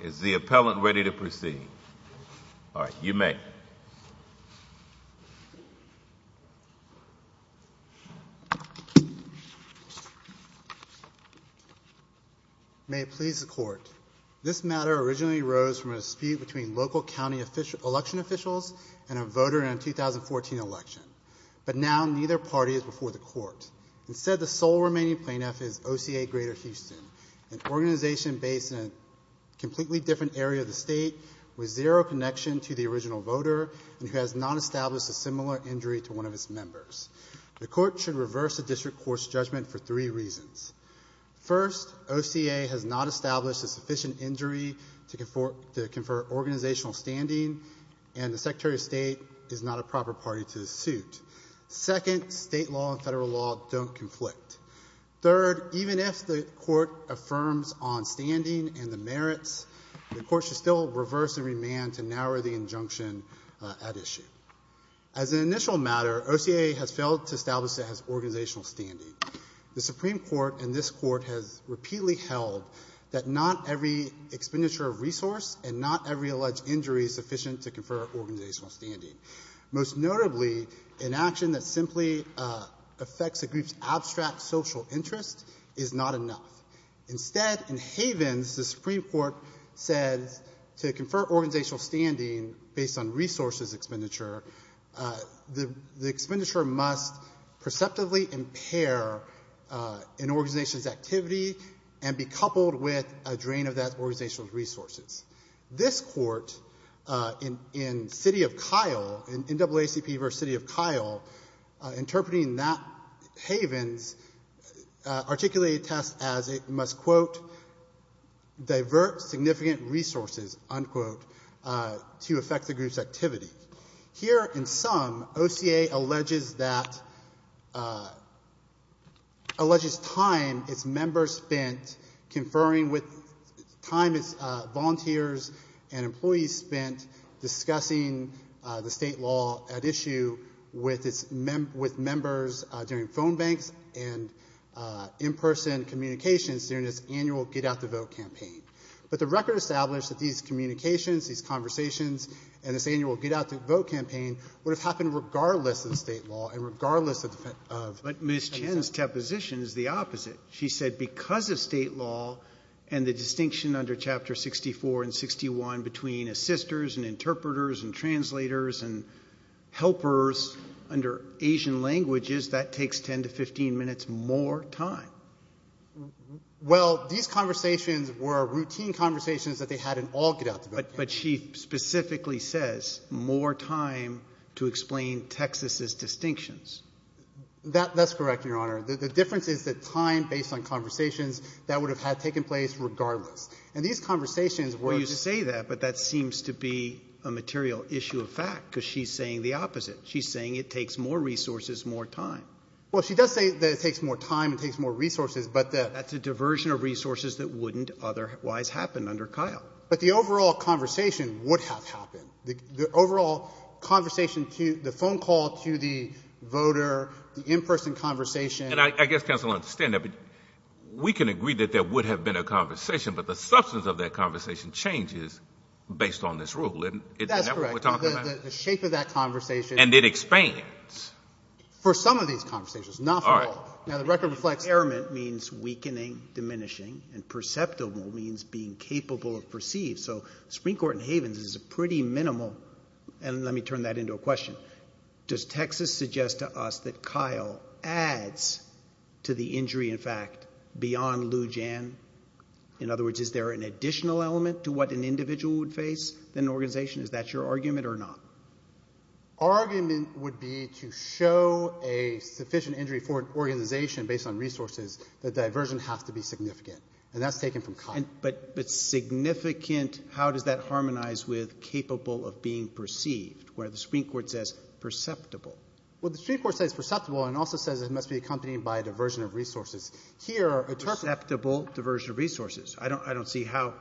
Is the appellant ready to proceed? You may. May it please the court, this matter originally arose from a dispute between local county election officials and a voter in a 2014 election, but now neither party is before the court. Instead, the sole remaining plaintiff is OCA-Greater Houston, an organization based in a completely different area of the state with zero connection to the original voter and who has not established a similar injury to one of its members. The court should reverse the district court's judgment for three reasons. First, OCA has not established a sufficient injury to confer organizational standing and the Secretary of State is not a proper party to the suit. Second, state law and federal law don't conflict. Third, even if the court affirms on standing and the merits, the court should still reverse the remand to narrow the injunction at issue. As an initial matter, OCA has failed to establish that it has organizational standing. The Supreme Court and this court has repeatedly held that not every expenditure of resource and not every alleged injury is sufficient to confer organizational standing. Most notably, an action that simply affects a group's abstract social interest is not enough. Instead, in Havens, the Supreme Court says to confer organizational standing based on resources expenditure, the expenditure must perceptively impair an organization's activity and be coupled with a drain of that organization's resources. This court in, in City of Kyle, in NAACP versus City of Kyle, interpreting that Havens articulated test as it must, quote, divert significant resources, unquote, to affect the group's activity. Here, in sum, OCA alleges that, alleges time its members spent conferring with, time its volunteers and employees spent discussing the state law at issue with its, with members during phone banks and in-person communications during this annual get-out-the-vote campaign. But the record established that these communications, these conversations, and this annual get-out-the-vote campaign would have happened regardless of the state law and regardless of. But Ms. Chen's deposition is the opposite. She said because of state law and the distinction under Chapter 64 and 61 between assisters and interpreters and translators and helpers under Asian languages, that takes 10 to 15 minutes more time. Well, these conversations were routine conversations that they had in all get-out-the-vote campaigns. But she specifically says more time to explain Texas's distinctions. That, that's correct, Your Honor. The difference is that time based on conversations, that would have had taken place regardless. And these conversations were. Well, you say that, but that seems to be a material issue of fact, because she's saying the opposite. She's saying it takes more resources, more time. Well, she does say that it takes more time and takes more resources, but that. That's a diversion of resources that wouldn't otherwise happen under Kyle. But the overall conversation would have happened. The overall conversation to, the phone call to the voter, the in-person conversation. And I guess counsel will understand that, but we can agree that there would have been a conversation, but the substance of that conversation changes based on this rule. Isn't that what we're talking about? The shape of that conversation. And it expands. For some of these conversations, not for all. Now, the record reflects. Airment means weakening, diminishing, and perceptible means being capable of perceived. So, Supreme Court in Havens is a pretty minimal, and let me turn that into a question. Does Texas suggest to us that Kyle adds to the injury, in fact, beyond Lou Jan? In other words, is there an additional element to what an individual would face in an organization? Is that your argument or not? Our argument would be to show a sufficient injury for an organization based on resources. The diversion has to be significant, and that's taken from Kyle. But significant, how does that harmonize with capable of being perceived? Where the Supreme Court says perceptible. Well, the Supreme Court says perceptible and also says it must be accompanied by a diversion of resources. Here, it talks about- Perceptible diversion of resources. I don't see how-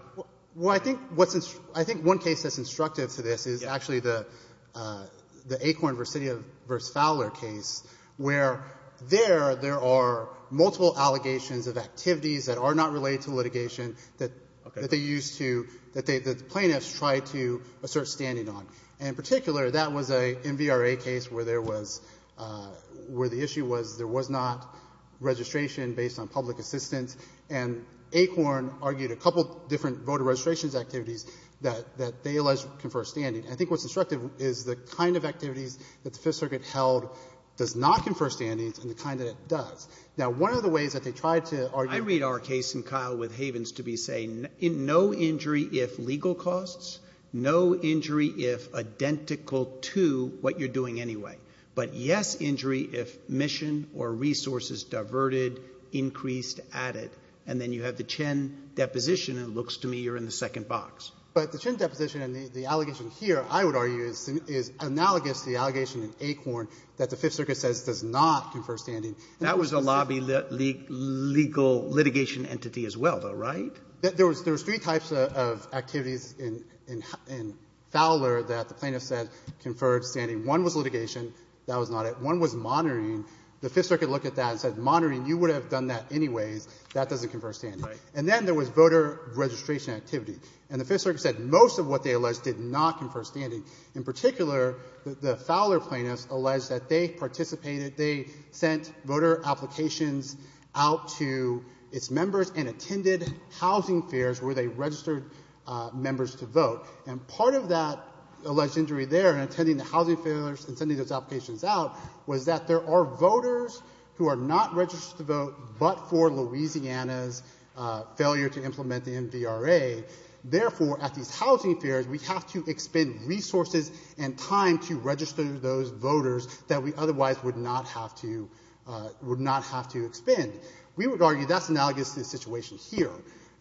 Well, I think one case that's instructive to this is actually the Acorn versus Fowler case, where there, there are multiple allegations of activities that are not related to litigation that they used to, that the plaintiffs tried to assert standing on. And in particular, that was a MVRA case where there was, where the issue was there was not registration based on public assistance. And Acorn argued a couple different voter registration activities that they alleged confer standing. And I think what's instructive is the kind of activities that the Fifth Circuit held does not confer standings and the kind that it does. Now, one of the ways that they tried to argue- I read our case in Kyle with Havens to be saying no injury if legal costs, no injury if identical to what you're doing anyway. But yes injury if mission or resources diverted, increased, added. And then you have the Chen deposition, and it looks to me you're in the second box. But the Chen deposition and the allegation here, I would argue, is analogous to the allegation in Acorn that the Fifth Circuit says does not confer standing. That was a lobby legal litigation entity as well, though, right? There was three types of activities in Fowler that the plaintiffs said conferred standing. One was litigation. That was not it. One was monitoring. The Fifth Circuit looked at that and said, monitoring, you would have done that anyways. That doesn't confer standing. And then there was voter registration activity. And the Fifth Circuit said most of what they alleged did not confer standing. In particular, the Fowler plaintiffs alleged that they participated, they sent voter applications out to its members and attended housing fairs where they registered members to vote. And part of that alleged injury there in attending the housing fairs and sending those applications out was that there are voters who are not registered to vote, but for Louisiana's failure to implement the MVRA. Therefore, at these housing fairs, we have to expend resources and time to register those voters that we otherwise would not have to expend. We would argue that's analogous to the situation here.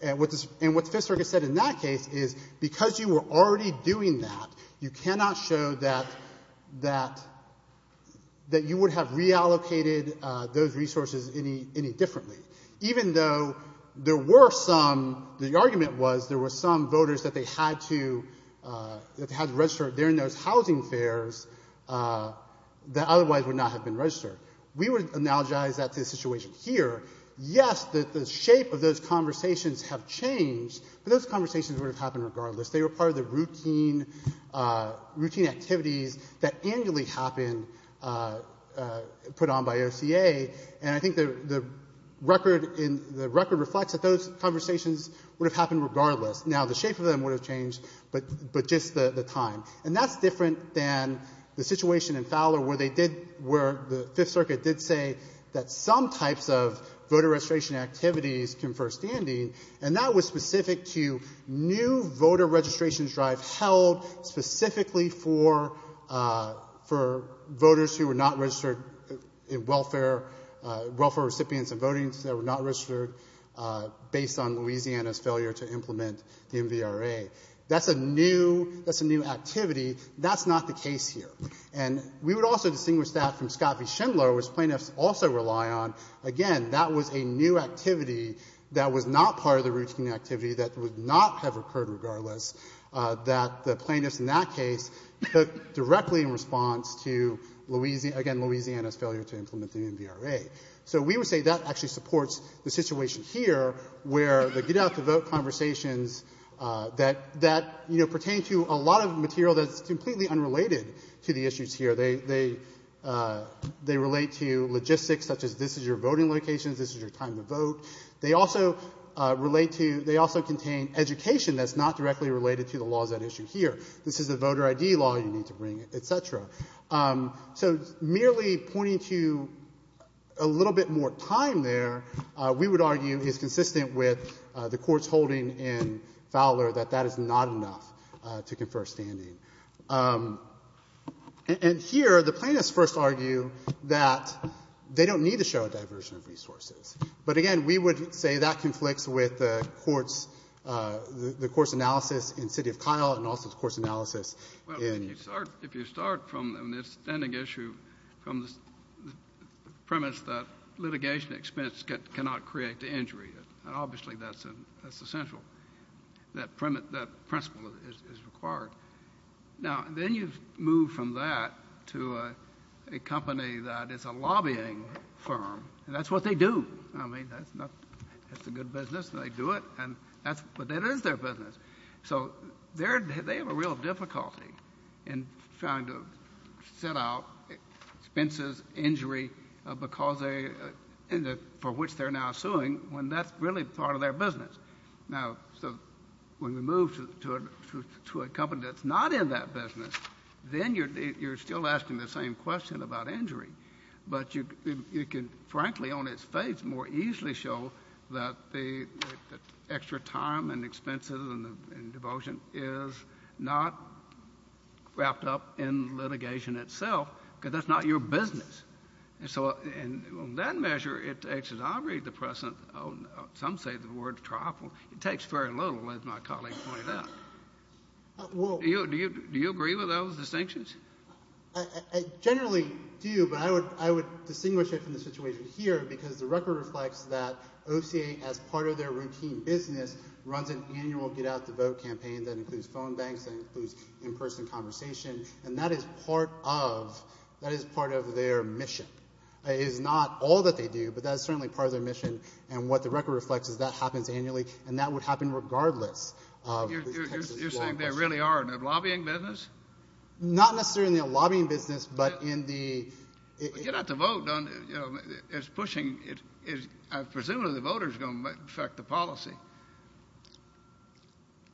And what the Fifth Circuit said in that case is because you were already doing that, you cannot show that you would have reallocated those resources any differently. Even though there were some, the argument was there were some voters that they had to register during those housing fairs that otherwise would not have been registered. We would analogize that to the situation here. Yes, the shape of those conversations have changed, but those conversations would have happened regardless. They were part of the routine activities that annually happen put on by OCA. And I think the record reflects that those conversations would have happened regardless. Now, the shape of them would have changed, but just the time. And that's different than the situation in Fowler where they did, where the Fifth Circuit did say that some types of voter registration activities confer standing. And that was specific to new voter registration drive held specifically for voters who were not registered in welfare, welfare recipients and votings that were not registered based on Louisiana's failure to implement the MVRA. That's a new, that's a new activity. That's not the case here. And we would also distinguish that from Scott v. Schindler, which plaintiffs also rely on. Again, that was a new activity that was not part of the routine activity that would not have occurred regardless. That the plaintiffs in that case took directly in response to Louisiana's failure to implement the MVRA. So we would say that actually supports the situation here where the get out to vote conversations that, you know, pertain to a lot of material that's completely unrelated to the issues here. They relate to logistics such as this is your voting locations, this is your time to vote. They also relate to, they also contain education that's not directly related to the laws at issue here. This is a voter ID law you need to bring, et cetera. So merely pointing to a little bit more time there, we would argue is consistent with the court's holding in Fowler that that is not enough to confer standing. And here, the plaintiffs first argue that they don't need to show a diversion of resources. But again, we would say that conflicts with the court's, the court's analysis in City of Kyle and also the court's analysis in- from the standing issue from the premise that litigation expense cannot create the injury. And obviously, that's essential, that principle is required. Now, then you move from that to a company that is a lobbying firm, and that's what they do. I mean, that's a good business, and they do it, but that is their business. So they have a real difficulty in trying to set out expenses, injury, because they, for which they're now suing, when that's really part of their business. Now, so when we move to a company that's not in that business, then you're still asking the same question about injury. But you can, frankly, on its face, more easily show that the extra time and devotion is not wrapped up in litigation itself, because that's not your business. And so, and on that measure, it takes, as I read the precedent, some say the word trifle. It takes very little, as my colleague pointed out. Do you agree with those distinctions? I generally do, but I would distinguish it from the situation here, because the record reflects that OCA, as part of their routine business, runs an annual get out the vote campaign that includes phone banks, that includes in-person conversation, and that is part of, that is part of their mission. It is not all that they do, but that is certainly part of their mission, and what the record reflects is that happens annually, and that would happen regardless of. You're saying there really are, in the lobbying business? Not necessarily in the lobbying business, but in the. Get out the vote, you know, is pushing, I presume the voters are going to affect the policy.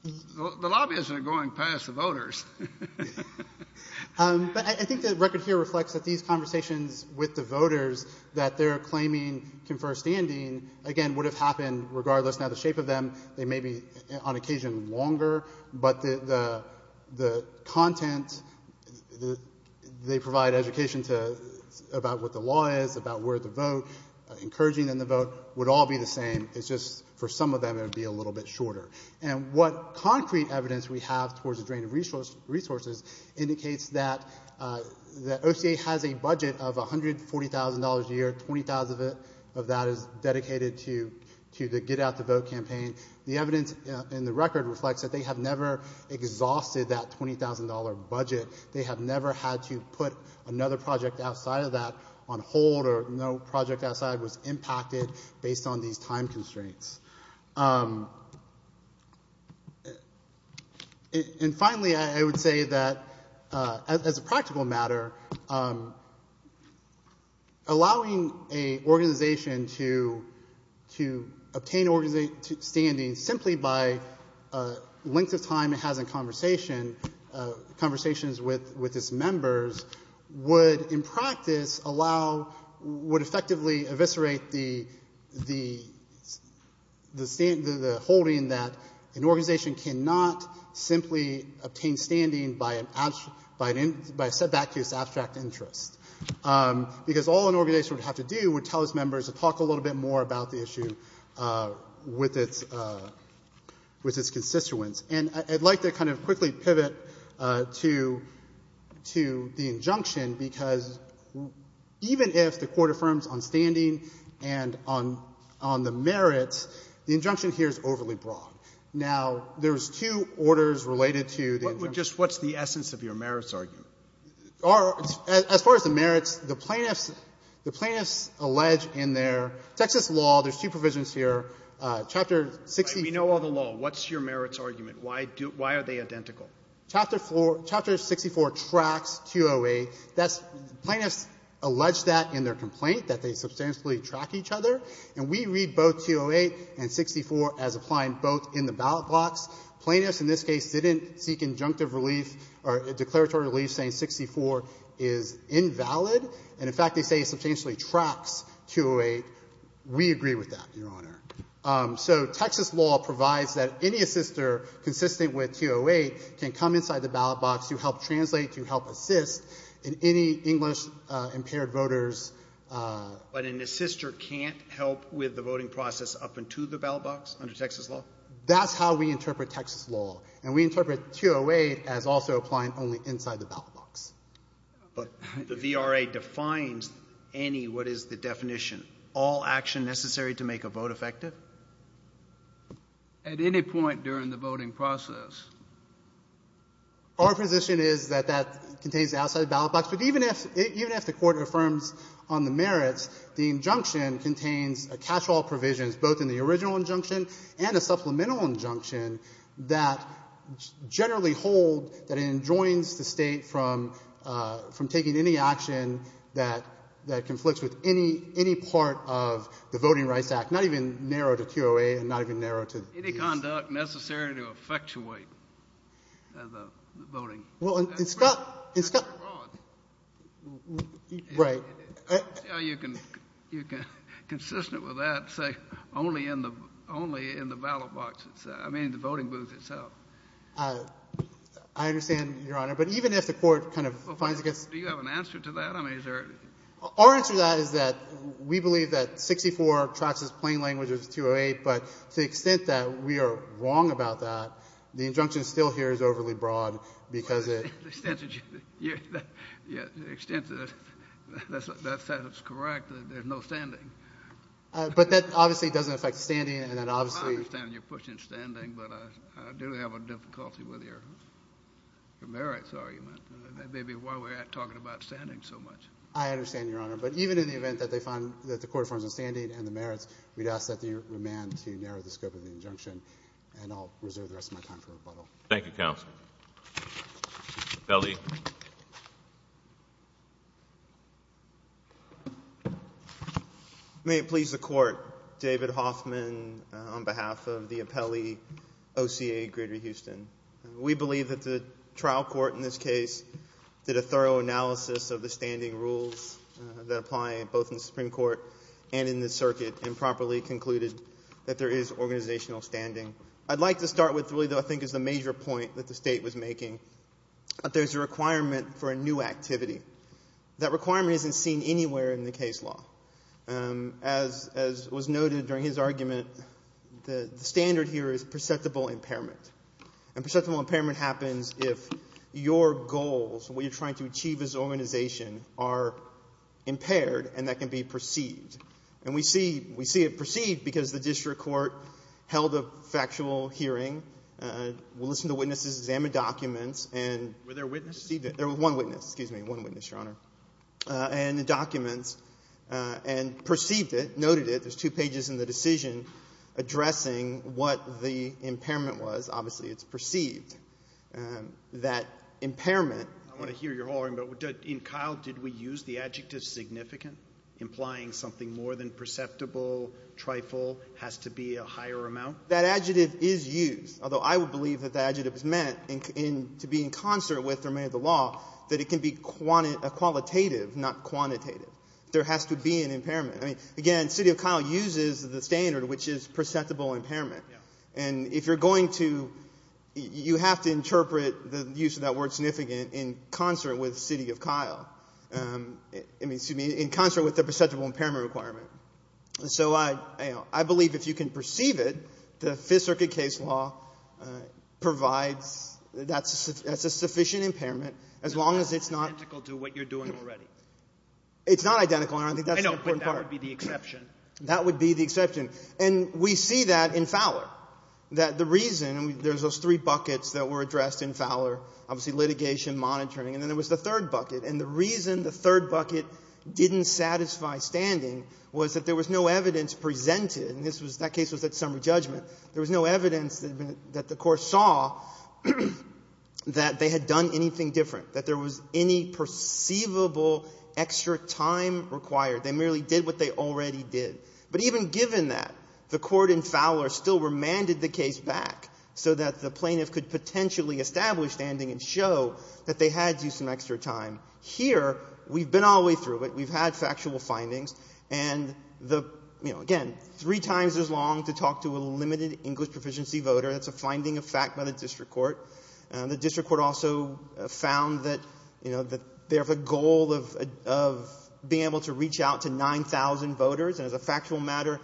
The lobbyists are going past the voters. But I think the record here reflects that these conversations with the voters, that they're claiming confer standing, again, would have happened regardless. Now the shape of them, they may be, on occasion, longer, but the content, they provide education to, about what the law is, about where to vote, encouraging them to vote, would all be the same, it's just for some of them, it would be a little bit shorter. And what concrete evidence we have towards the drain of resources indicates that the OCA has a budget of $140,000 a year, $20,000 of that is dedicated to the get out the vote campaign. The evidence in the record reflects that they have never exhausted that $20,000 budget. They have never had to put another project outside of that on hold, or no project outside was impacted based on these time constraints. And finally, I would say that, as a practical matter, allowing an organization to obtain standing simply by length of time it has in conversations with its members would, in practice, allow, would effectively eviscerate the holding that an organization cannot simply obtain standing by a setback to its abstract interest. Because all an organization would have to do would tell its members to talk a little bit more about the issue with its constituents. And I'd like to kind of quickly pivot to the injunction, because even if the Court affirms on standing and on the merits, the injunction here is overly broad. Now, there's two orders related to the injunction. First, what's the essence of your merits argument? As far as the merits, the plaintiffs allege in their Texas law, there's two provisions here. Chapter 64 We know all the law. What's your merits argument? Why are they identical? Chapter 64 tracks 208. Plaintiffs allege that in their complaint, that they substantially track each other. And we read both 208 and 64 as applying both in the ballot box. Plaintiffs in this case didn't seek injunctive relief or declaratory relief saying 64 is invalid. And, in fact, they say it substantially tracks 208. We agree with that, Your Honor. So Texas law provides that any assister consistent with 208 can come inside the ballot box to help translate, to help assist in any English-impaired voters. But an assister can't help with the voting process up into the ballot box under Texas law? That's how we interpret Texas law. And we interpret 208 as also applying only inside the ballot box. But the VRA defines any, what is the definition? All action necessary to make a vote effective? At any point during the voting process. Our position is that that contains outside the ballot box. But even if the court affirms on the merits, the injunction contains a catch-all provision, both in the original injunction and a supplemental injunction that generally hold that it enjoins the state from taking any action that conflicts with any part of the Voting Rights Act, not even narrow to QOA and not even narrow to the EASA. Any conduct necessary to effectuate the voting? Well, in Scott's, in Scott's, right. You can, you can, consistent with that, say only in the, only in the ballot box itself. I mean, the voting booth itself. I understand, Your Honor. But even if the court kind of finds against. Do you have an answer to that? I mean, is there? Our answer to that is that we believe that 64 tracks as plain language as 208. But to the extent that we are wrong about that, the injunction still here is overly broad. Because it. The extent that you, the extent that, that's correct that there's no standing. But that obviously doesn't affect standing and then obviously. I understand you're pushing standing. But I do have a difficulty with your merits argument. That may be why we're talking about standing so much. I understand, Your Honor. But even in the event that they find that the court affirms on standing and the merits, we'd ask that the remand to narrow the scope of the injunction. And I'll reserve the rest of my time for rebuttal. Thank you, Counsel. Apelli. May it please the court. David Hoffman on behalf of the Apelli OCA Greater Houston. We believe that the trial court in this case did a thorough analysis of the standing rules that apply both in the Supreme Court and in the circuit and properly concluded that there is organizational standing. I'd like to start with really though I think is the major point that the state was making. That there's a requirement for a new activity. That requirement isn't seen anywhere in the case law. As was noted during his argument, the standard here is perceptible impairment. And perceptible impairment happens if your goals, what you're trying to achieve as an organization, are impaired and that can be perceived. And we see it perceived because the district court held a factual hearing. We listened to witnesses, examined documents, and- Were there witnesses? There was one witness, excuse me, one witness, Your Honor. And the documents, and perceived it, noted it. There's two pages in the decision addressing what the impairment was. Obviously, it's perceived. That impairment- I want to hear your whole argument, but in Kyle, did we use the adjective significant? Implying something more than perceptible, trifle, has to be a higher amount? That adjective is used, although I would believe that that adjective is meant to be in concert with the remainder of the law. That it can be a qualitative, not quantitative. There has to be an impairment. I mean, again, City of Kyle uses the standard, which is perceptible impairment. And if you're going to, you have to interpret the use of that word significant in concert with City of Kyle. I mean, excuse me, in concert with the perceptible impairment requirement. So I believe if you can perceive it, the Fifth Circuit case law provides, that's a sufficient impairment, as long as it's not- It's not identical to what you're doing already. It's not identical, Your Honor, I think that's the important part. I know, but that would be the exception. That would be the exception. And we see that in Fowler. That the reason, there's those three buckets that were addressed in Fowler, obviously litigation, monitoring, and then there was the third bucket. And the reason the third bucket didn't satisfy standing was that there was no evidence presented. And this was, that case was at summary judgment. There was no evidence that the court saw that they had done anything different. That there was any perceivable extra time required. They merely did what they already did. But even given that, the court in Fowler still remanded the case back so that the plaintiff could potentially establish standing and show that they had used some extra time. Here, we've been all the way through it. We've had factual findings. And the, again, three times as long to talk to a limited English proficiency voter. That's a finding of fact by the district court. The district court also found that they have a goal of being able to reach out to 9,000 voters. And as a factual matter,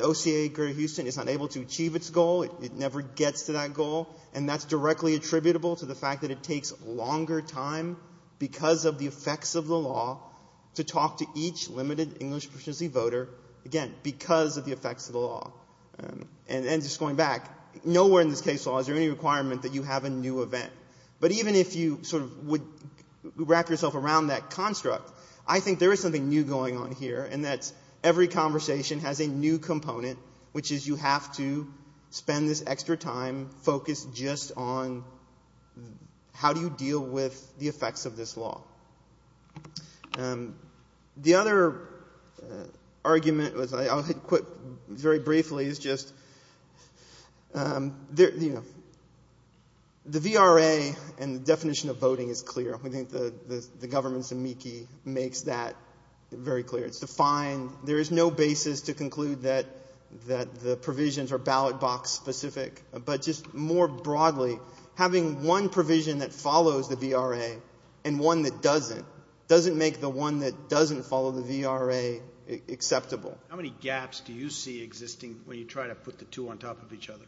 OCA Greater Houston is unable to achieve its goal. It never gets to that goal. And that's directly attributable to the fact that it takes longer time because of the effects of the law to talk to each limited English proficiency voter. Again, because of the effects of the law. And just going back, nowhere in this case law is there any requirement that you have a new event. But even if you sort of would wrap yourself around that construct, I think there is something new going on here. And that's every conversation has a new component, which is you have to spend this extra time focused just on how do you deal with the effects of this law. The other argument was, I'll hit quit very briefly, is just the VRA and the definition of voting is clear. I think the government's amici makes that very clear. There is no basis to conclude that the provisions are ballot box specific. But just more broadly, having one provision that follows the VRA and one that doesn't, doesn't make the one that doesn't follow the VRA acceptable. How many gaps do you see existing when you try to put the two on top of each other?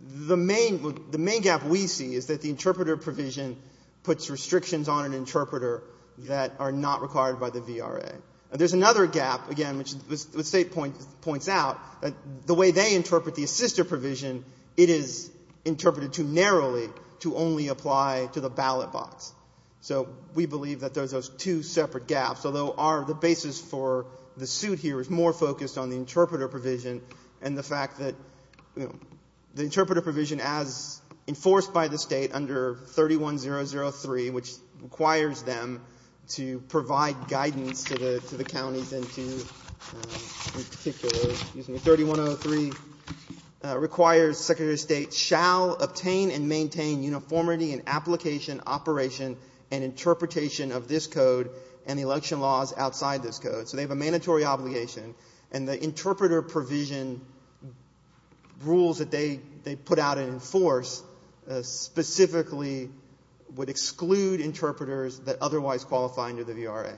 The main gap we see is that the interpreter provision puts restrictions on an interpreter that are not required by the VRA. There's another gap, again, which the state points out, that the way they interpret the assister provision, it is interpreted too narrowly to only apply to the ballot box. So we believe that there's those two separate gaps, although the basis for the suit here is more focused on the interpreter provision and the fact that the interpreter provision, as enforced by the state under 31003, which requires them to provide guidance to the counties and to, in particular, excuse me, 3103 requires Secretary of State shall obtain and maintain uniformity in application, operation, and interpretation of this code and election laws outside this code. So they have a mandatory obligation and the interpreter provision rules that they put out and enforce specifically would exclude interpreters that otherwise qualify under the VRA.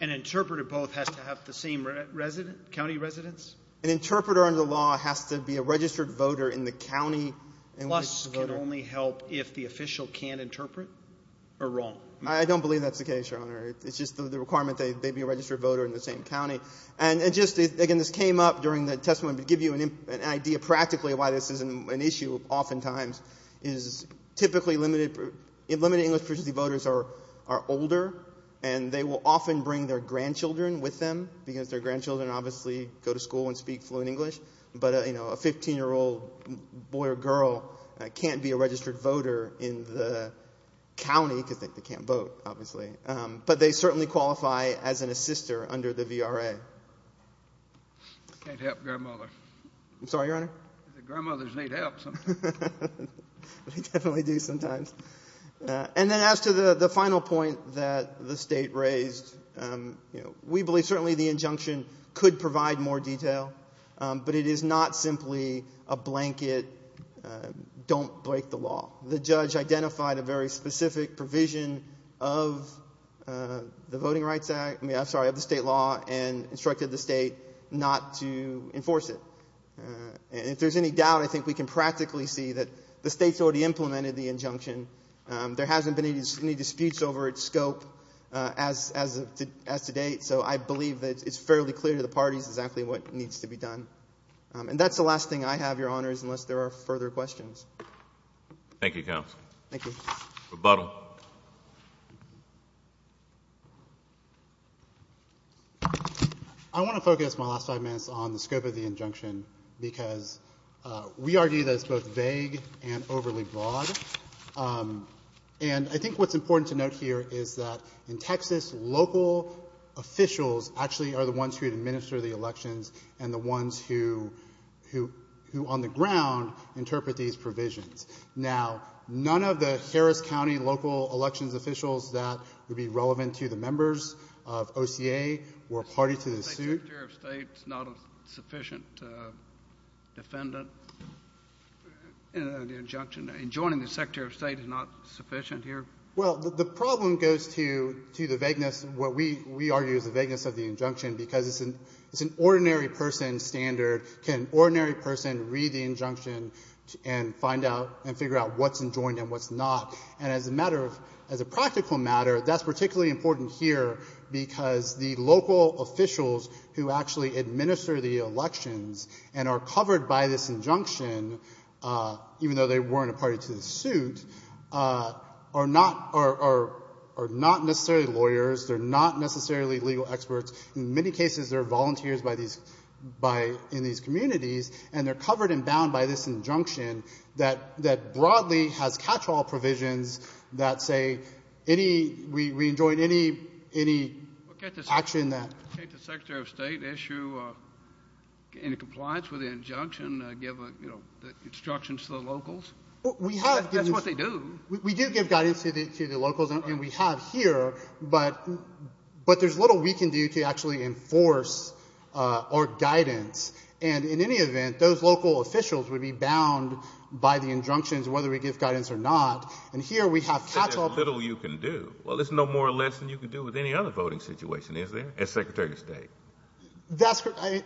An interpreter both has to have the same resident, county residence? An interpreter under the law has to be a registered voter in the county. Plus can only help if the official can't interpret or wrong. I don't believe that's the case, Your Honor. It's just the requirement that they be a registered voter in the same county. And just, again, this came up during the testimony to give you an idea practically why this isn't an issue oftentimes. Is typically limited, limited English proficiency voters are older and they will often bring their grandchildren with them because their grandchildren obviously go to school and speak fluent English. But a 15 year old boy or girl can't be a registered voter in the county because they can't vote, obviously. But they certainly qualify as an assister under the VRA. Can't help grandmother. I'm sorry, Your Honor? Grandmothers need help sometimes. They definitely do sometimes. And then as to the final point that the state raised, we believe certainly the injunction could provide more detail. But it is not simply a blanket don't break the law. The judge identified a very specific provision of the voting rights act, I mean, I'm sorry, of the state law and instructed the state not to enforce it. And if there's any doubt, I think we can practically see that the state's already implemented the injunction. There hasn't been any disputes over its scope as to date, so I believe that it's fairly clear to the parties exactly what needs to be done. And that's the last thing I have, Your Honors, unless there are further questions. Thank you, Counsel. Thank you. Rebuttal. I want to focus my last five minutes on the scope of the injunction because we argue that it's both vague and overly broad. And I think what's important to note here is that in Texas, local officials actually are the ones who administer the elections and the ones who on the ground interpret these provisions. Now, none of the Harris County local elections officials that would be relevant to the members of OCA were party to this suit. Secretary of State is not a sufficient defendant in the injunction. And joining the Secretary of State is not sufficient here? Well, the problem goes to the vagueness, what we argue is the vagueness of the injunction, because it's an ordinary person standard. Can an ordinary person read the injunction and figure out what's enjoined and what's not? And as a matter of, as a practical matter, that's particularly important here because the local officials who actually administer the elections and are covered by this injunction, even though they weren't a party to the suit, are not necessarily lawyers. They're not necessarily legal experts. In many cases, they're volunteers by these, by, in these communities. And they're covered and bound by this injunction that, that broadly has catch-all provisions that say any, we, we enjoin any, any action that- Well, can't the Secretary of State issue any compliance with the injunction, give instructions to the locals? We have- That's what they do. We do give guidance to the locals. And we have here, but, but there's little we can do to actually enforce our guidance. And in any event, those local officials would be bound by the injunctions, whether we give guidance or not. And here we have catch-all- There's little you can do. Well, there's no more or less than you can do with any other voting situation, is there, as Secretary of State? That's correct.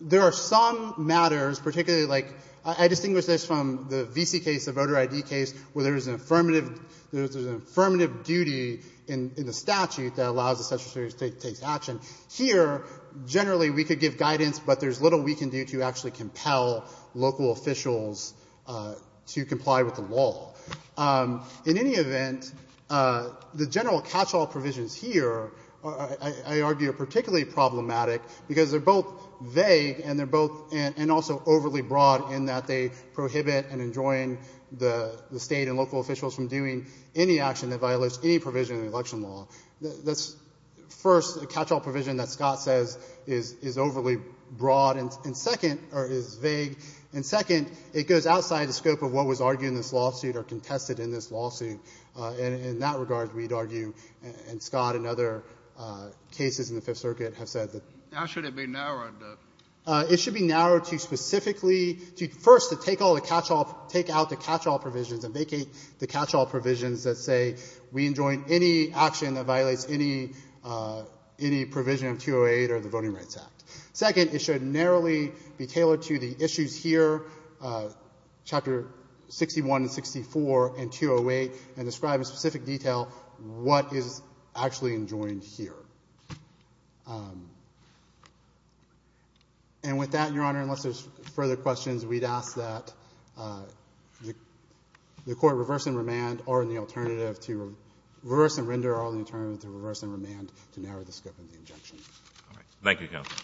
There are some matters, particularly like, I distinguish this from the VC case, the voter ID case, where there's an affirmative, there's an affirmative duty in, in the statute that allows the Secretary of State to take action. Here, generally, we could give guidance, but there's little we can do to actually compel local officials to comply with the law. In any event, the general catch-all provisions here are, I, I argue, are particularly problematic, because they're both vague and they're both, and, and also overly broad in that they prohibit and enjoin the, the state and local officials from doing any action that violates any provision of the election law. That's, first, a catch-all provision that Scott says is, is overly broad and, and second, or is vague. And second, it goes outside the scope of what was argued in this lawsuit or contested in this lawsuit. And, and in that regard, we'd argue, and Scott and other cases in the Fifth Circuit have said that the law should be narrowed. It should be narrowed to specifically, to first, to take all the catch-all, take out the catch-all provisions and vacate the catch-all provisions that say we enjoin any action that violates any, any provision of 208 or the Voting Rights Act. Second, it should narrowly be tailored to the issues here, Chapter 61 and 64 and 208, and describe in specific detail what is actually enjoined here. And with that, Your Honor, unless there's further questions, we'd ask that the Court reverse and remand, or the alternative to reverse and render, or the alternative to reverse and remand to narrow the scope of the injunction. Thank you, Counsel.